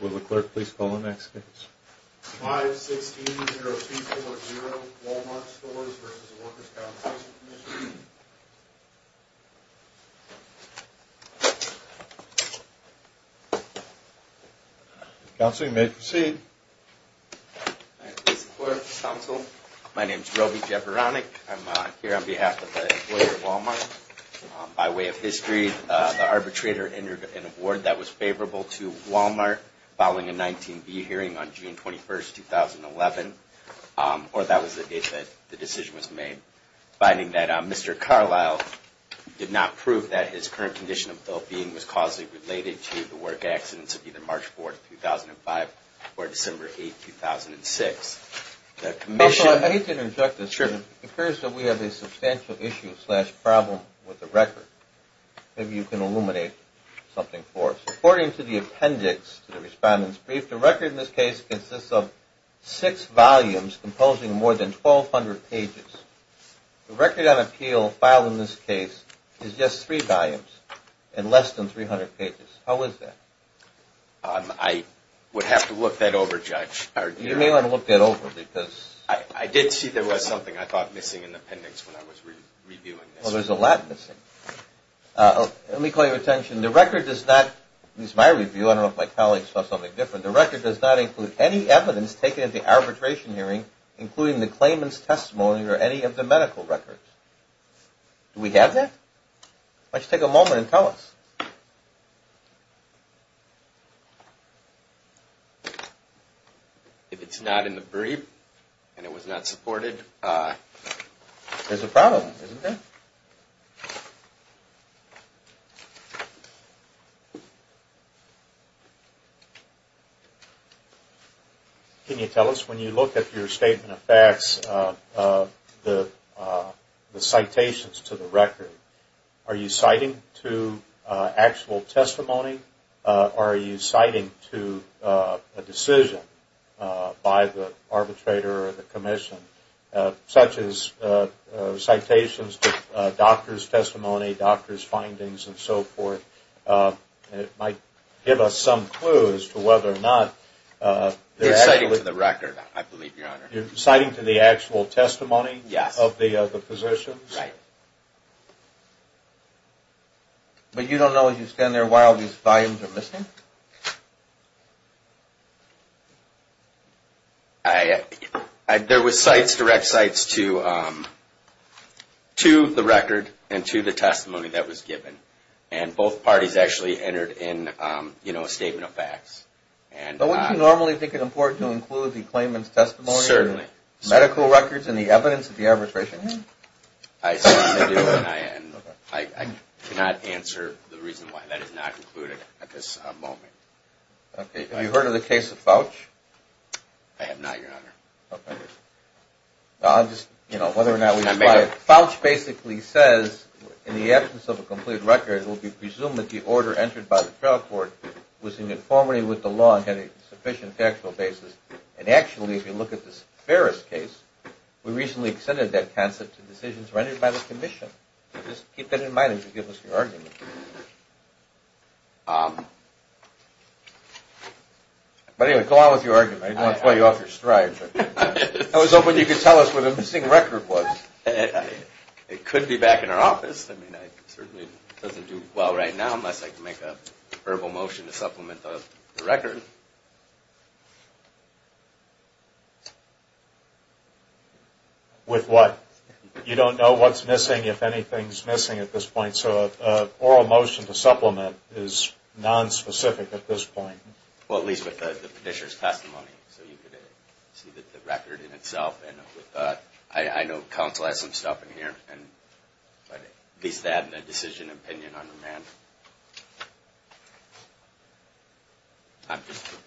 Will the clerk please call the next case? 5-16-0240, Wal-Mart Stores v. Workers' Compensation Comm'n Counseling, you may proceed. Hi, please, clerk, counsel. My name's Roby Jeberonic. I'm here on behalf of the employer, Wal-Mart. By way of history, the arbitrator entered an award that was favorable to Wal-Mart following a 19-B hearing on June 21, 2011, or that was the date that the decision was made, finding that Mr. Carlisle did not prove that his current condition of well-being was causally related to the work accidents of either March 4, 2005, or December 8, 2006. Counsel, I hate to interrupt this, but it occurs that we have a substantial issue-slash-problem with the record. Maybe you can illuminate something for us. According to the appendix to the Respondent's Brief, the record in this case consists of six volumes composing more than 1,200 pages. The record on appeal filed in this case is just three volumes and less than 300 pages. How is that? I would have to look that over, Judge. You may want to look that over because- I did see there was something I thought missing in the appendix when I was reviewing this. Well, there's a lot missing. Let me call your attention. The record does not-this is my review. I don't know if my colleagues saw something different. The record does not include any evidence taken at the arbitration hearing, including the claimant's testimony or any of the medical records. Do we have that? Why don't you take a moment and tell us. If it's not in the brief and it was not supported- There's a problem, isn't there? Can you tell us, when you look at your statement of facts, the citations to the record, are you citing to actual testimony or are you citing to a decision by the arbitrator or the commission, such as citations to doctor's testimony, doctor's findings and so forth? It might give us some clues as to whether or not- You're citing to the record, I believe, Your Honor. You're citing to the actual testimony of the physicians? Right. But you don't know, as you stand there, why all these volumes are missing? There were direct cites to the record and to the testimony that was given. And both parties actually entered in a statement of facts. But wouldn't you normally think it important to include the claimant's testimony- Certainly. Medical records and the evidence at the arbitration hearing? I cannot answer the reason why that is not included at this moment. Have you heard of the case of Fouch? I have not, Your Honor. Okay. I'll just- Fouch basically says, in the absence of a complete record, it will be presumed that the order entered by the trial court was in conformity with the law and had a sufficient factual basis. And actually, if you look at this Ferris case, we recently extended that concept to decisions rendered by the commission. Just keep that in mind as you give us your argument. But anyway, go on with your argument. I don't want to throw you off your stride. I was hoping you could tell us where the missing record was. It could be back in our office. I mean, it certainly doesn't do well right now unless I can make a verbal motion to supplement the record. With what? You don't know what's missing, if anything's missing at this point. So an oral motion to supplement is nonspecific at this point. Well, at least with the petitioner's testimony. So you could see the record in itself. I know counsel has some stuff in here. At least to add a decision opinion on the matter. I'm just going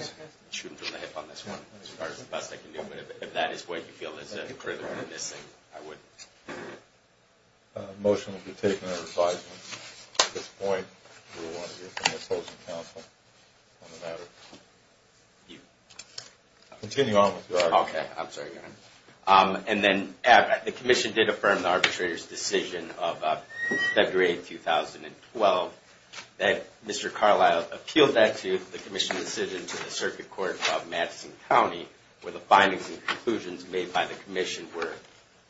to shoot him from the hip on this one as far as the best I can do. But if that is what you feel is critical in this thing, I would. A motion will be taken and revised. At this point, we will want to hear from the opposing counsel on the matter. Continue on with your argument. Okay, I'm sorry. And then the commission did affirm the arbitrator's decision of February 2012. Mr. Carlisle appealed that to the commission's decision to the Circuit Court of Madison County, where the findings and conclusions made by the commission were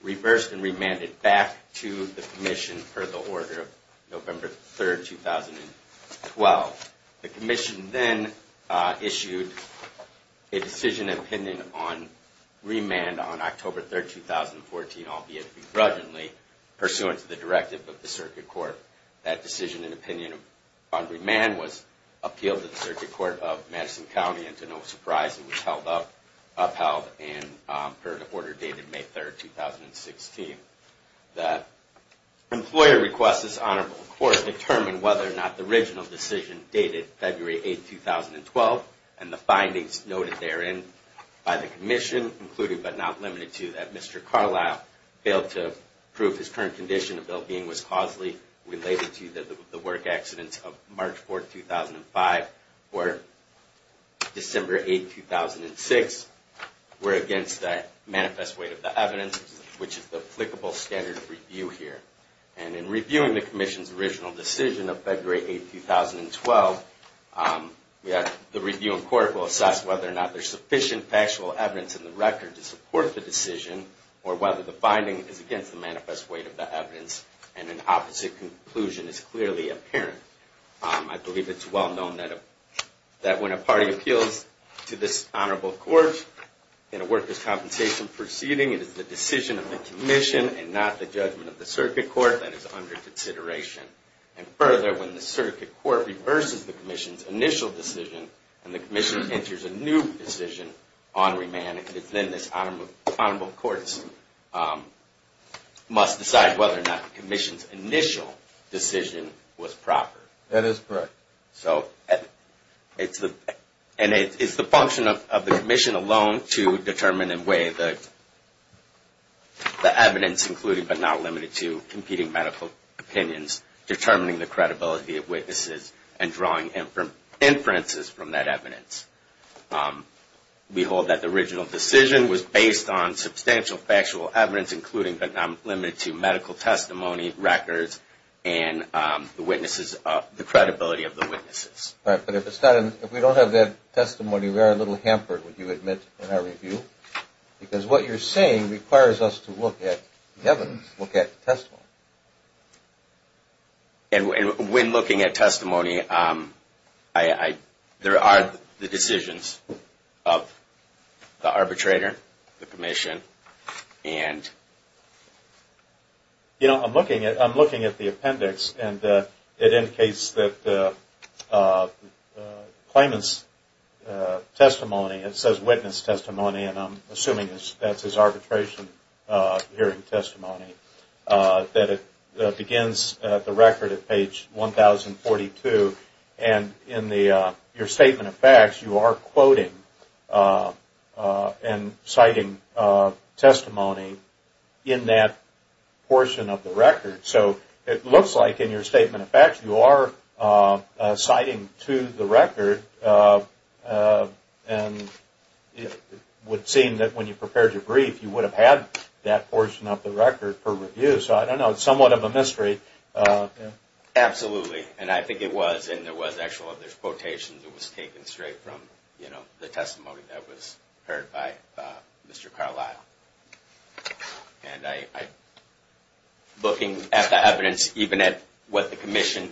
reversed and remanded back to the commission per the order of November 3, 2012. The commission then issued a decision and opinion on remand on October 3, 2014, albeit begrudgingly, pursuant to the directive of the Circuit Court. That decision and opinion on remand was appealed to the Circuit Court of Madison County, and to no surprise, it was upheld and per the order dated May 3, 2016. The employer requests this honorable court determine whether or not the original decision dated February 8, 2012 and the findings noted therein by the commission, including but not limited to that Mr. Carlisle failed to prove his current condition of well-being was causally related to the work accidents of March 4, 2005 or December 8, 2006, were against the manifest weight of the evidence, which is the applicable standard of review here. And in reviewing the commission's original decision of February 8, 2012, the review in court will assess whether or not there's sufficient factual evidence in the record to support the decision or whether the finding is against the manifest weight of the evidence and an opposite conclusion is clearly apparent. I believe it's well known that when a party appeals to this honorable court in a workers' compensation proceeding, it is the decision of the commission and not the judgment of the circuit court that is under consideration. And further, when the circuit court reverses the commission's initial decision and the commission enters a new decision on remand, it's then this honorable court must decide whether or not the commission's initial decision was proper. That is correct. And it's the function of the commission alone to determine and weigh the evidence, including but not limited to competing medical opinions, determining the credibility of witnesses, and drawing inferences from that evidence. We hold that the original decision was based on substantial factual evidence, including but not limited to medical testimony, records, and the credibility of the witnesses. But if we don't have that testimony, we are a little hampered, would you admit, in our review? Because what you're saying requires us to look at the evidence, look at the testimony. And when looking at testimony, there are the decisions of the arbitrator, the commission, and... You know, I'm looking at the appendix, and it indicates that the claimant's testimony, it says witness testimony, and I'm assuming that's his arbitration hearing testimony, that it begins at the record at page 1042. And in your statement of facts, you are quoting and citing testimony in that portion of the record. So it looks like in your statement of facts, you are citing to the record, and it would seem that when you prepared your brief, you would have had that portion of the record for review. So I don't know, it's somewhat of a mystery. Absolutely, and I think it was, and there was actual other quotations that was taken straight from the testimony that was heard by Mr. Carlisle. And I, looking at the evidence, even at what the commission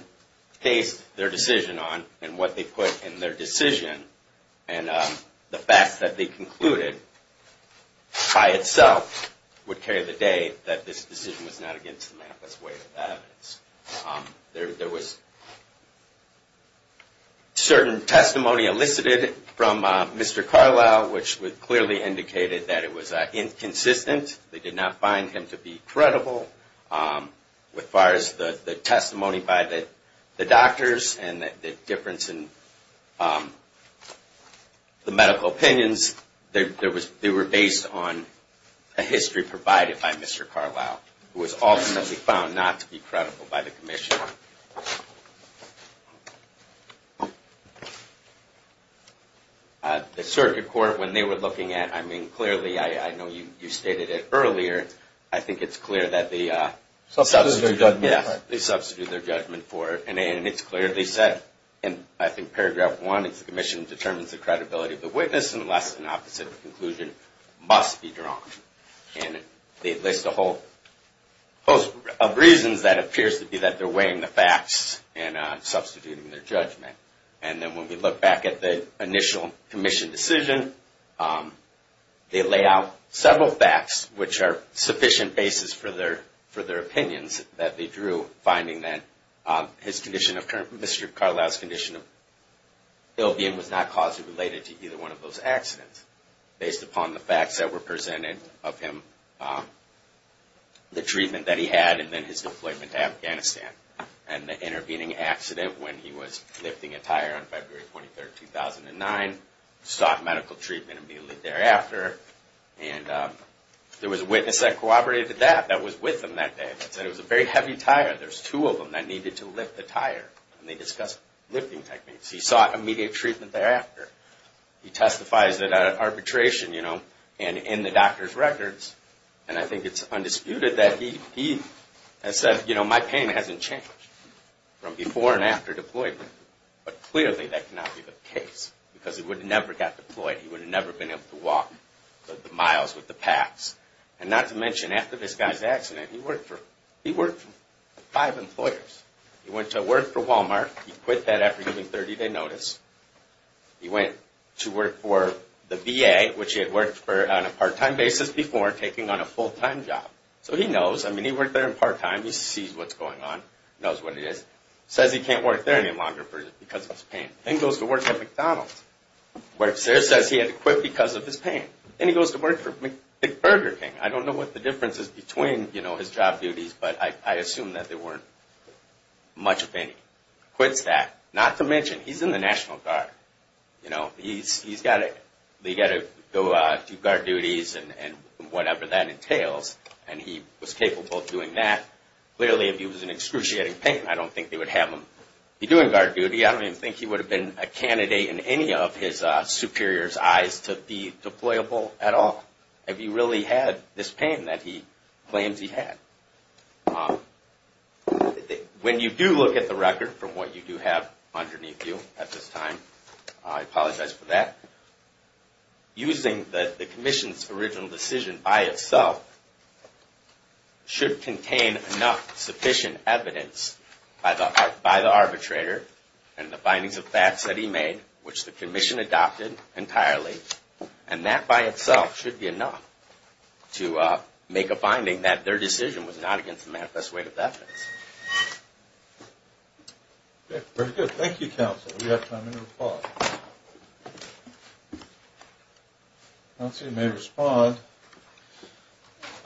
based their decision on, and what they put in their decision, and the fact that they concluded by itself would carry the day that this decision was not against the manifest way of evidence. There was certain testimony elicited from Mr. Carlisle, which clearly indicated that it was inconsistent. They did not find him to be credible. As far as the testimony by the doctors and the difference in the medical opinions, they were based on a history provided by Mr. Carlisle, who was ultimately found not to be credible by the commission. The circuit court, when they were looking at, I mean, clearly, I know you stated it earlier, I think it's clear that they substituted their judgment for it. And it's clearly said, and I think paragraph one is the commission determines the credibility of the witness, unless an opposite conclusion must be drawn. And they list a whole host of reasons that appears to be that they're weighing the facts and substituting their judgment. And then when we look back at the initial commission decision, they lay out several facts, which are sufficient basis for their opinions that they drew, finding that his condition, Mr. Carlisle's condition, was not causally related to either one of those accidents, based upon the facts that were presented of him, the treatment that he had, and then his deployment to Afghanistan. And the intervening accident when he was lifting a tire on February 23, 2009, sought medical treatment immediately thereafter. And there was a witness that cooperated with that, that was with him that day, that said it was a very heavy tire, there's two of them that needed to lift the tire. And they discussed lifting techniques. He sought immediate treatment thereafter. He testifies that arbitration, you know, and in the doctor's records, and I think it's undisputed that he has said, you know, my pain hasn't changed from before and after deployment. But clearly that cannot be the case, because he would have never got deployed. He would have never been able to walk the miles with the packs. And not to mention, after this guy's accident, he worked for five employers. He went to work for Walmart, he quit that after giving 30-day notice. He went to work for the VA, which he had worked for on a part-time basis before, taking on a full-time job. So he knows, I mean, he worked there in part-time, he sees what's going on, knows what it is. Says he can't work there any longer because of his pain. Then goes to work at McDonald's. Works there, says he had to quit because of his pain. Then he goes to work for McBurger King. I don't know what the difference is between, you know, his job duties, but I assume that there weren't much of any. Quits that. Not to mention, he's in the National Guard. You know, he's got to go do guard duties and whatever that entails, and he was capable of doing that. Clearly, if he was in excruciating pain, I don't think they would have him be doing guard duty. I don't even think he would have been a candidate in any of his superior's eyes to be deployable at all, if he really had this pain that he claims he had. When you do look at the record from what you do have underneath you at this time, I apologize for that, using the commission's original decision by itself should contain enough sufficient evidence by the arbitrator and the findings of facts that he made, which the commission adopted entirely, and that by itself should be enough to make a finding that their decision was not against the manifest way of evidence. Okay, very good. Thank you, counsel. We have time for a response. Counsel, you may respond.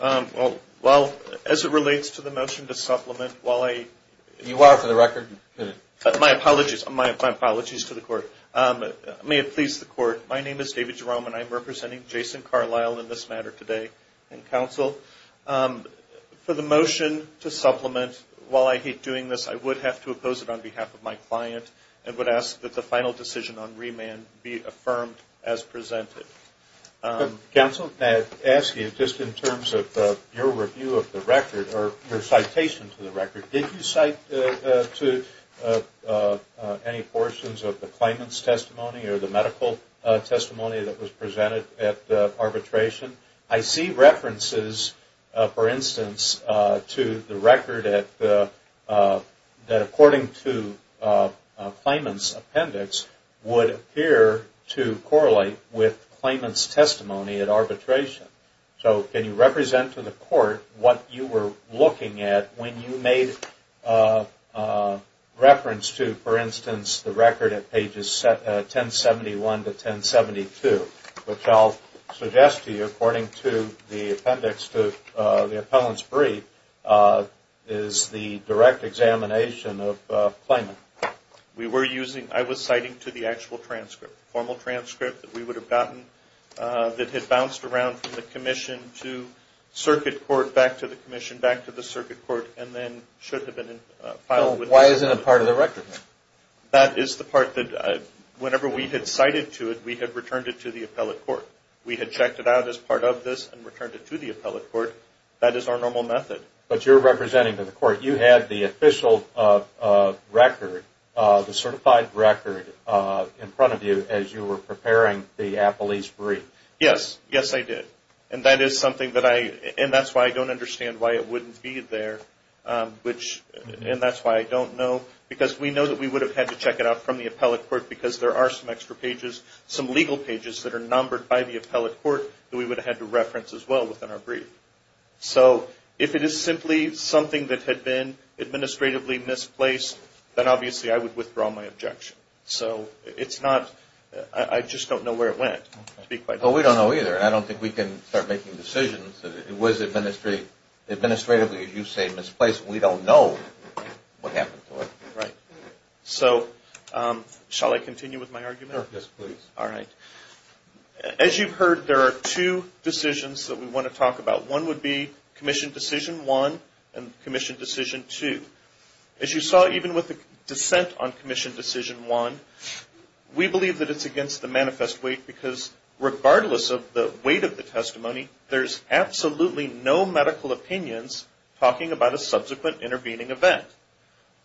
Well, as it relates to the motion to supplement, while I... You are, for the record, in it. My apologies. My apologies to the court. May it please the court, my name is David Jerome, and I'm representing Jason Carlisle in this matter today. And counsel, for the motion to supplement, while I hate doing this, I would have to oppose it on behalf of my client and would ask that the final decision on remand be affirmed as presented. Counsel, may I ask you, just in terms of your review of the record or your citation to the record, did you cite to any portions of the claimant's testimony or the medical testimony that was presented at arbitration? I see references, for instance, to the record that, according to a claimant's appendix, would appear to correlate with claimant's testimony at arbitration. So can you represent to the court what you were looking at when you made reference to, for instance, the record at pages 1071 to 1072, which I'll suggest to you, according to the appendix to the appellant's brief, is the direct examination of claimant. We were using... I was citing to the actual transcript, formal transcript that we would have gotten that had bounced around from the commission to circuit court, back to the commission, back to the circuit court, and then should have been filed with... Why isn't it part of the record? That is the part that, whenever we had cited to it, we had returned it to the appellate court. We had checked it out as part of this and returned it to the appellate court. That is our normal method. But you're representing to the court, you had the official record, the certified record, in front of you as you were preparing the appellee's brief. Yes. Yes, I did. And that is something that I... And that's why I don't know, because we know that we would have had to check it out from the appellate court, because there are some extra pages, some legal pages that are numbered by the appellate court, that we would have had to reference as well within our brief. So, if it is simply something that had been administratively misplaced, then obviously I would withdraw my objection. So, it's not... I just don't know where it went, to be quite honest. Well, we don't know either. I don't think we can start making decisions that it was administratively, as you say, misplaced. We don't know what happened to it. Right. So, shall I continue with my argument? Yes, please. All right. As you've heard, there are two decisions that we want to talk about. One would be Commission Decision 1 and Commission Decision 2. As you saw, even with the dissent on Commission Decision 1, we believe that it's against the manifest weight, because regardless of the weight of the testimony, there's absolutely no medical opinions talking about a subsequent intervening event.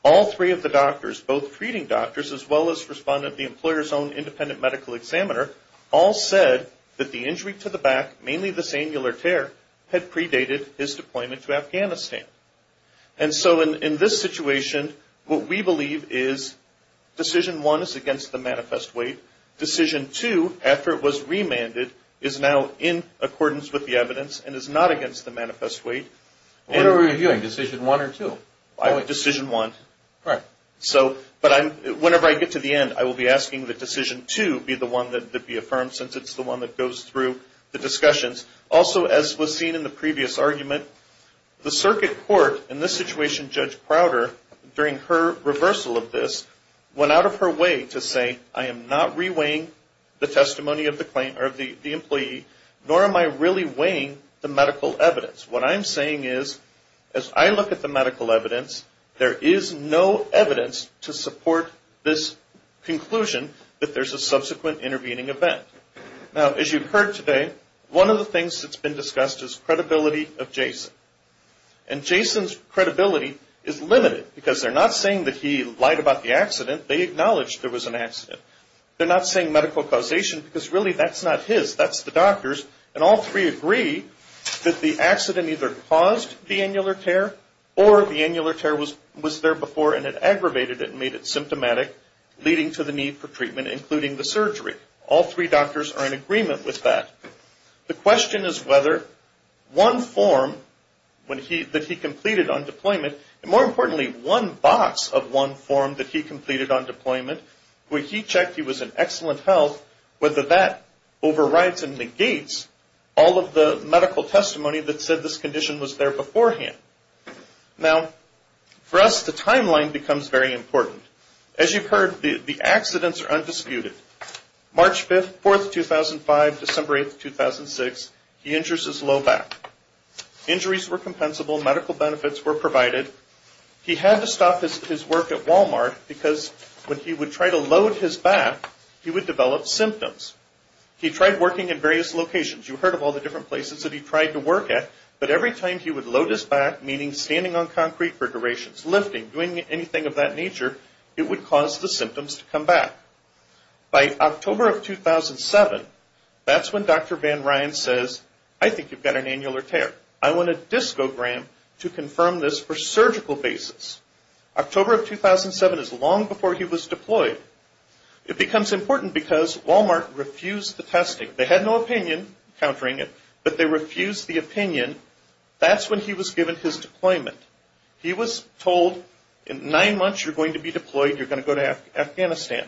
All three of the doctors, both treating doctors as well as respondent of the employer's own independent medical examiner, all said that the injury to the back, mainly the sangular tear, had predated his deployment to Afghanistan. And so, in this situation, what we believe is Decision 1 is against the manifest weight. Decision 2, after it was remanded, is now in accordance with the evidence and is not against the manifest weight. What are we reviewing, Decision 1 or 2? Decision 1. All right. So, whenever I get to the end, I will be asking that Decision 2 be the one that would be affirmed, since it's the one that goes through the discussions. Also, as was seen in the previous argument, the circuit court, in this situation, Judge Prowder, during her reversal of this, went out of her way to say, I am not re-weighing the testimony of the employee, nor am I really weighing the medical evidence. What I'm saying is, as I look at the medical evidence, there is no evidence to support this conclusion that there's a subsequent intervening event. Now, as you've heard today, one of the things that's been discussed is credibility of Jason. And Jason's credibility is limited, because they're not saying that he lied about the accident. They acknowledged there was an accident. They're not saying medical causation, because really, that's not his. That's the doctor's. And all three agree that the accident either caused the annular tear, or the annular tear was there before and it aggravated it and made it symptomatic, leading to the need for treatment, including the surgery. All three doctors are in agreement with that. The question is whether one form that he completed on deployment, and more importantly, one box of one form that he completed on deployment, where he checked he was in excellent health, whether that overrides and negates all of the medical testimony that said this condition was there beforehand. Now, for us, the timeline becomes very important. As you've heard, the accidents are undisputed. March 5th, 4th, 2005, December 8th, 2006, he injures his low back. Injuries were compensable. Medical benefits were provided. He had to stop his work at Walmart, because when he would try to load his back, he would develop symptoms. He tried working in various locations. You heard of all the different places that he tried to work at, lifting, doing anything of that nature, it would cause the symptoms to come back. By October of 2007, that's when Dr. Van Ryan says, I think you've got an annular tear. I want a discogram to confirm this for surgical basis. October of 2007 is long before he was deployed. It becomes important because Walmart refused the testing. They had no opinion, countering it, but they refused the opinion. That's when he was given his deployment. He was told, in nine months, you're going to be deployed. You're going to go to Afghanistan.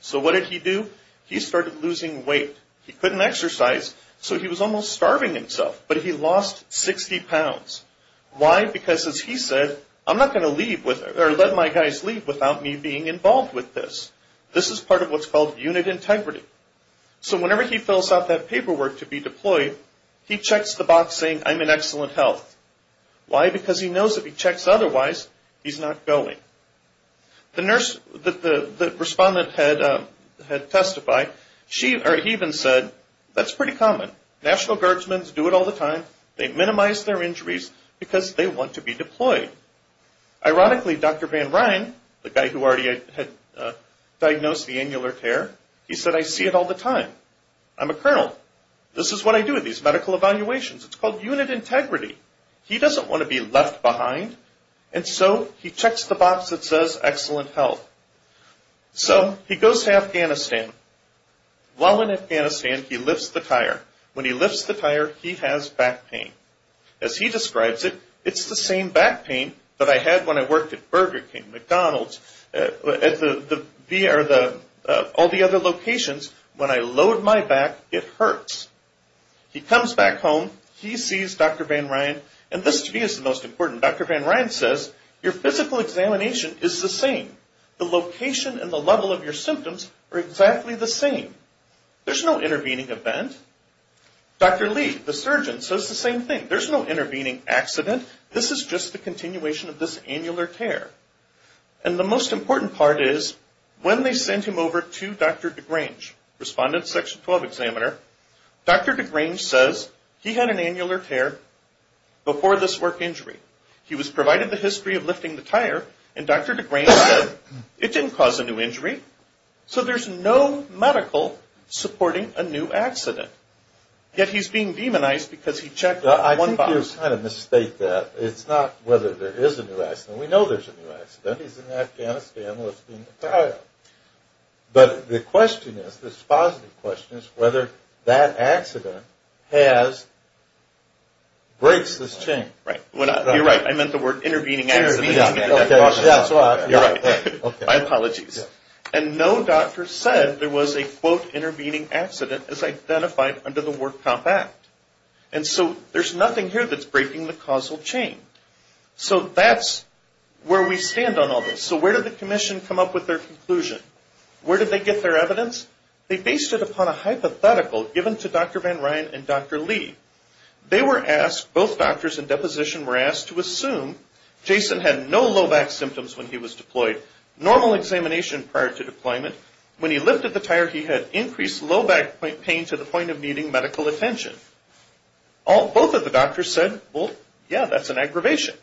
So what did he do? He started losing weight. He couldn't exercise, so he was almost starving himself, but he lost 60 pounds. Why? Because, as he said, I'm not going to leave, or let my guys leave, without me being involved with this. This is part of what's called unit integrity. So whenever he fills out that paperwork to be deployed, he checks the box saying, I'm in excellent health. Why? Because he knows if he checks otherwise, he's not going. The nurse that the respondent had testified, he even said, that's pretty common. National Guardsmen do it all the time. They minimize their injuries because they want to be deployed. Ironically, Dr. Van Ryan, the guy who already had diagnosed the annular tear, he said, I see it all the time. I'm a colonel. This is what I do at these medical evaluations. It's called unit integrity. He doesn't want to be left behind, and so he checks the box that says excellent health. So he goes to Afghanistan. While in Afghanistan, he lifts the tire. When he lifts the tire, he has back pain. As he describes it, it's the same back pain that I had when I worked at Burger King, McDonald's, all the other locations. When I load my back, it hurts. He comes back home. He sees Dr. Van Ryan, and this to me is the most important. Dr. Van Ryan says, your physical examination is the same. The location and the level of your symptoms are exactly the same. There's no intervening event. Dr. Lee, the surgeon, says the same thing. There's no intervening accident. This is just the continuation of this annular tear. And the most important part is when they send him over to Dr. DeGrange, respondent section 12 examiner, Dr. DeGrange says he had an annular tear before this work injury. He was provided the history of lifting the tire, and Dr. DeGrange said it didn't cause a new injury. So there's no medical supporting a new accident. Yet he's being demonized because he checked one box. I think you kind of mistake that. It's not whether there is a new accident. We know there's a new accident. He's in Afghanistan lifting the tire. But the question is, this positive question, is whether that accident has, breaks this chain. You're right. I meant the word intervening accident. You're right. My apologies. And no doctor said there was a, quote, intervening accident as identified under the Ward Comp Act. And so there's nothing here that's breaking the causal chain. So that's where we stand on all this. So where did the commission come up with their conclusion? Where did they get their evidence? They based it upon a hypothetical given to Dr. Van Ryn and Dr. Lee. They were asked, both doctors in deposition were asked to assume Jason had no low back symptoms when he was deployed, normal examination prior to deployment. When he lifted the tire, he had increased low back pain to the point of needing medical attention. Both of the doctors said, well, yeah, that's an aggravation.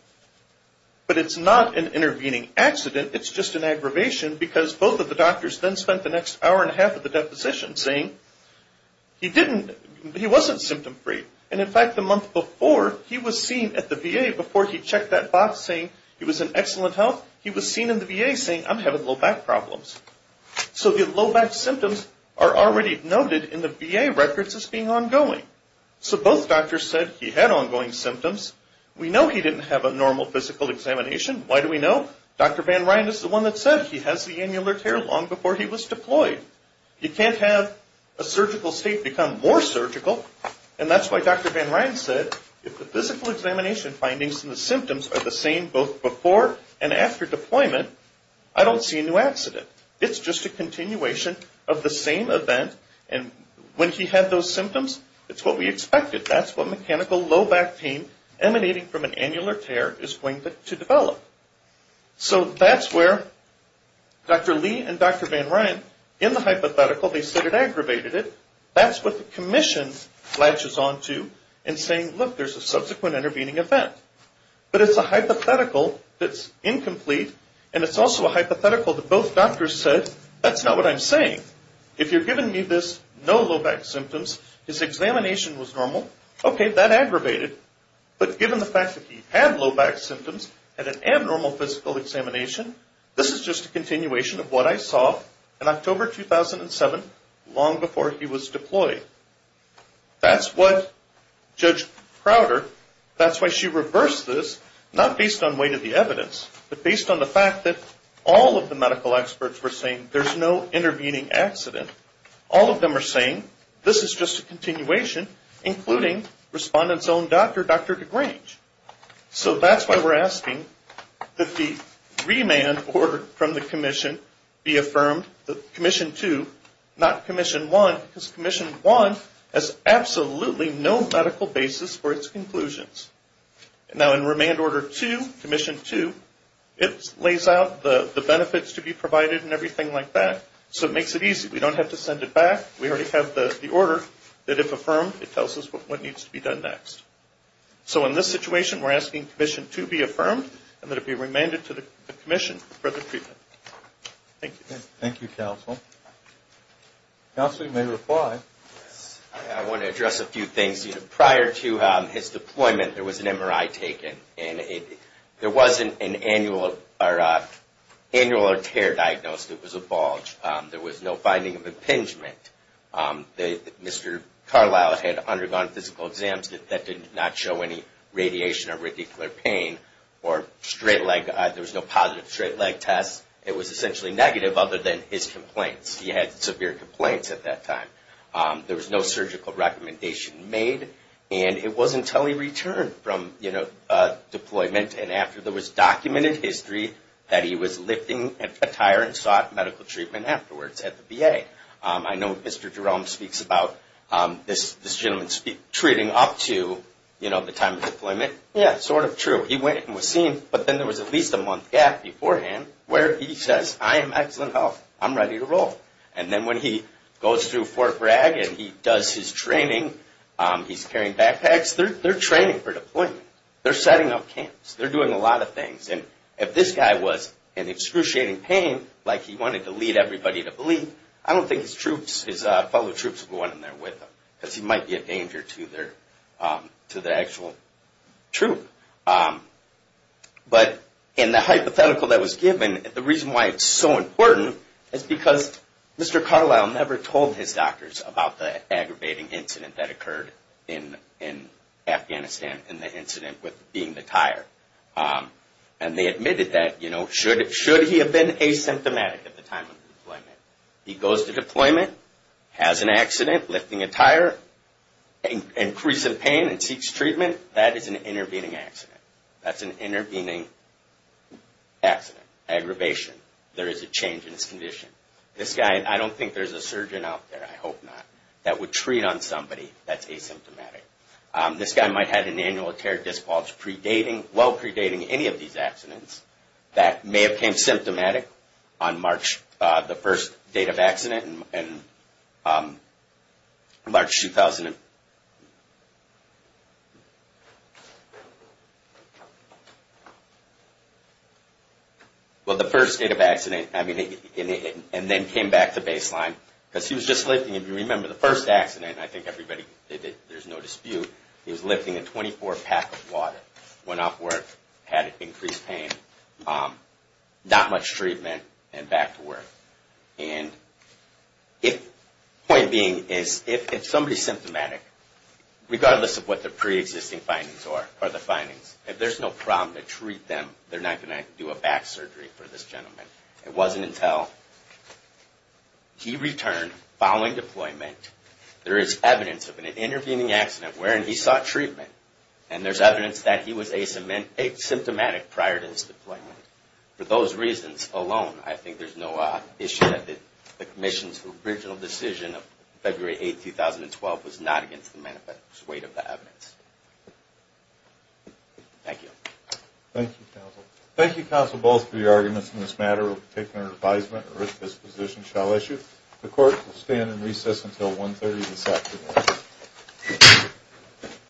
But it's not an intervening accident. It's just an aggravation because both of the doctors then spent the next hour and a half of the deposition saying, he didn't, he wasn't symptom free. And, in fact, the month before, he was seen at the VA before he checked that box saying he was in excellent health. He was seen in the VA saying, I'm having low back problems. So the low back symptoms are already noted in the VA records as being ongoing. So both doctors said he had ongoing symptoms. We know he didn't have a normal physical examination. Why do we know? Dr. Van Ryn is the one that said he has the annular tear long before he was deployed. You can't have a surgical state become more surgical. And that's why Dr. Van Ryn said, if the physical examination findings and the symptoms are the same both before and after deployment, I don't see a new accident. It's just a continuation of the same event. And when he had those symptoms, it's what we expected. That's what mechanical low back pain emanating from an annular tear is going to develop. So that's where Dr. Lee and Dr. Van Ryn, in the hypothetical, they said it aggravated it. That's what the commission latches on to in saying, look, there's a subsequent intervening event. But it's a hypothetical that's incomplete, and it's also a hypothetical that both doctors said, that's not what I'm saying. If you're giving me this, no low back symptoms, his examination was normal, okay, that aggravated. But given the fact that he had low back symptoms and an abnormal physical examination, this is just a continuation of what I saw in October 2007, long before he was deployed. That's what Judge Crowder, that's why she reversed this, not based on weight of the evidence, but based on the fact that all of the medical experts were saying there's no intervening accident. All of them are saying this is just a continuation, including respondent's own doctor, Dr. DeGrange. So that's why we're asking that the remand order from the commission be affirmed, that Commission 2, not Commission 1, because Commission 1 has absolutely no medical basis for its conclusions. Now in remand order 2, Commission 2, it lays out the benefits to be provided and everything like that, so it makes it easy. We don't have to send it back. We already have the order that if affirmed, it tells us what needs to be done next. So in this situation, we're asking Commission 2 be affirmed, and that it be remanded to the commission for further treatment. Thank you. Thank you, counsel. Counsel, you may reply. I want to address a few things. Prior to his deployment, there was an MRI taken, and there wasn't an annual or tear diagnosed. It was a bulge. There was no finding of impingement. Mr. Carlisle had undergone physical exams that did not show any radiation or radicular pain or straight leg. There was no positive straight leg test. It was essentially negative other than his complaints. He had severe complaints at that time. There was no surgical recommendation made, and it wasn't until he returned from deployment and after there was documented history that he was lifting a tire and sought medical treatment afterwards at the VA. I know Mr. Jerome speaks about this gentleman treating up to the time of deployment. Yeah, sort of true. He went and was seen, but then there was at least a month gap beforehand where he says, I am excellent health. I'm ready to roll. And then when he goes through Fort Bragg and he does his training, he's carrying backpacks. They're training for deployment. They're setting up camps. They're doing a lot of things. And if this guy was in excruciating pain like he wanted to lead everybody to believe, I don't think his troops, his fellow troops would go in there with him because he might be a danger to their actual troop. But in the hypothetical that was given, the reason why it's so important is because Mr. Carlisle never told his doctors about the aggravating incident that occurred in Afghanistan and the incident with being the tire. And they admitted that, you know, should he have been asymptomatic at the time of deployment? He goes to deployment, has an accident, lifting a tire, increasing pain and seeks treatment. That is an intervening accident. That's an intervening accident, aggravation. There is a change in his condition. This guy, I don't think there's a surgeon out there. I hope not, that would treat on somebody that's asymptomatic. This guy might have had an annual tear disc bulge predating, well predating any of these accidents that may have been symptomatic on March, the first date of accident in March 2000. Well, the first date of accident, I mean, and then came back to baseline because he was just lifting, if you remember the first accident, I think everybody, there's no dispute, he was lifting a 24-pack of water, went off work, had increased pain, not much treatment and back to work. And the point being is if somebody's symptomatic, regardless of what the pre-existing findings are, if there's no problem to treat them, they're not going to do a back surgery for this gentleman. It wasn't until he returned following deployment, there is evidence of an intervening accident wherein he sought treatment, and there's evidence that he was asymptomatic prior to his deployment. For those reasons alone, I think there's no issue that the commission's original decision of February 8, 2012 was not against the weight of the evidence. Thank you. Thank you, counsel. Thank you, counsel, both for your arguments in this matter. We'll be taking our advisement at this position shall issue. The court will stand in recess until 1.30 this afternoon.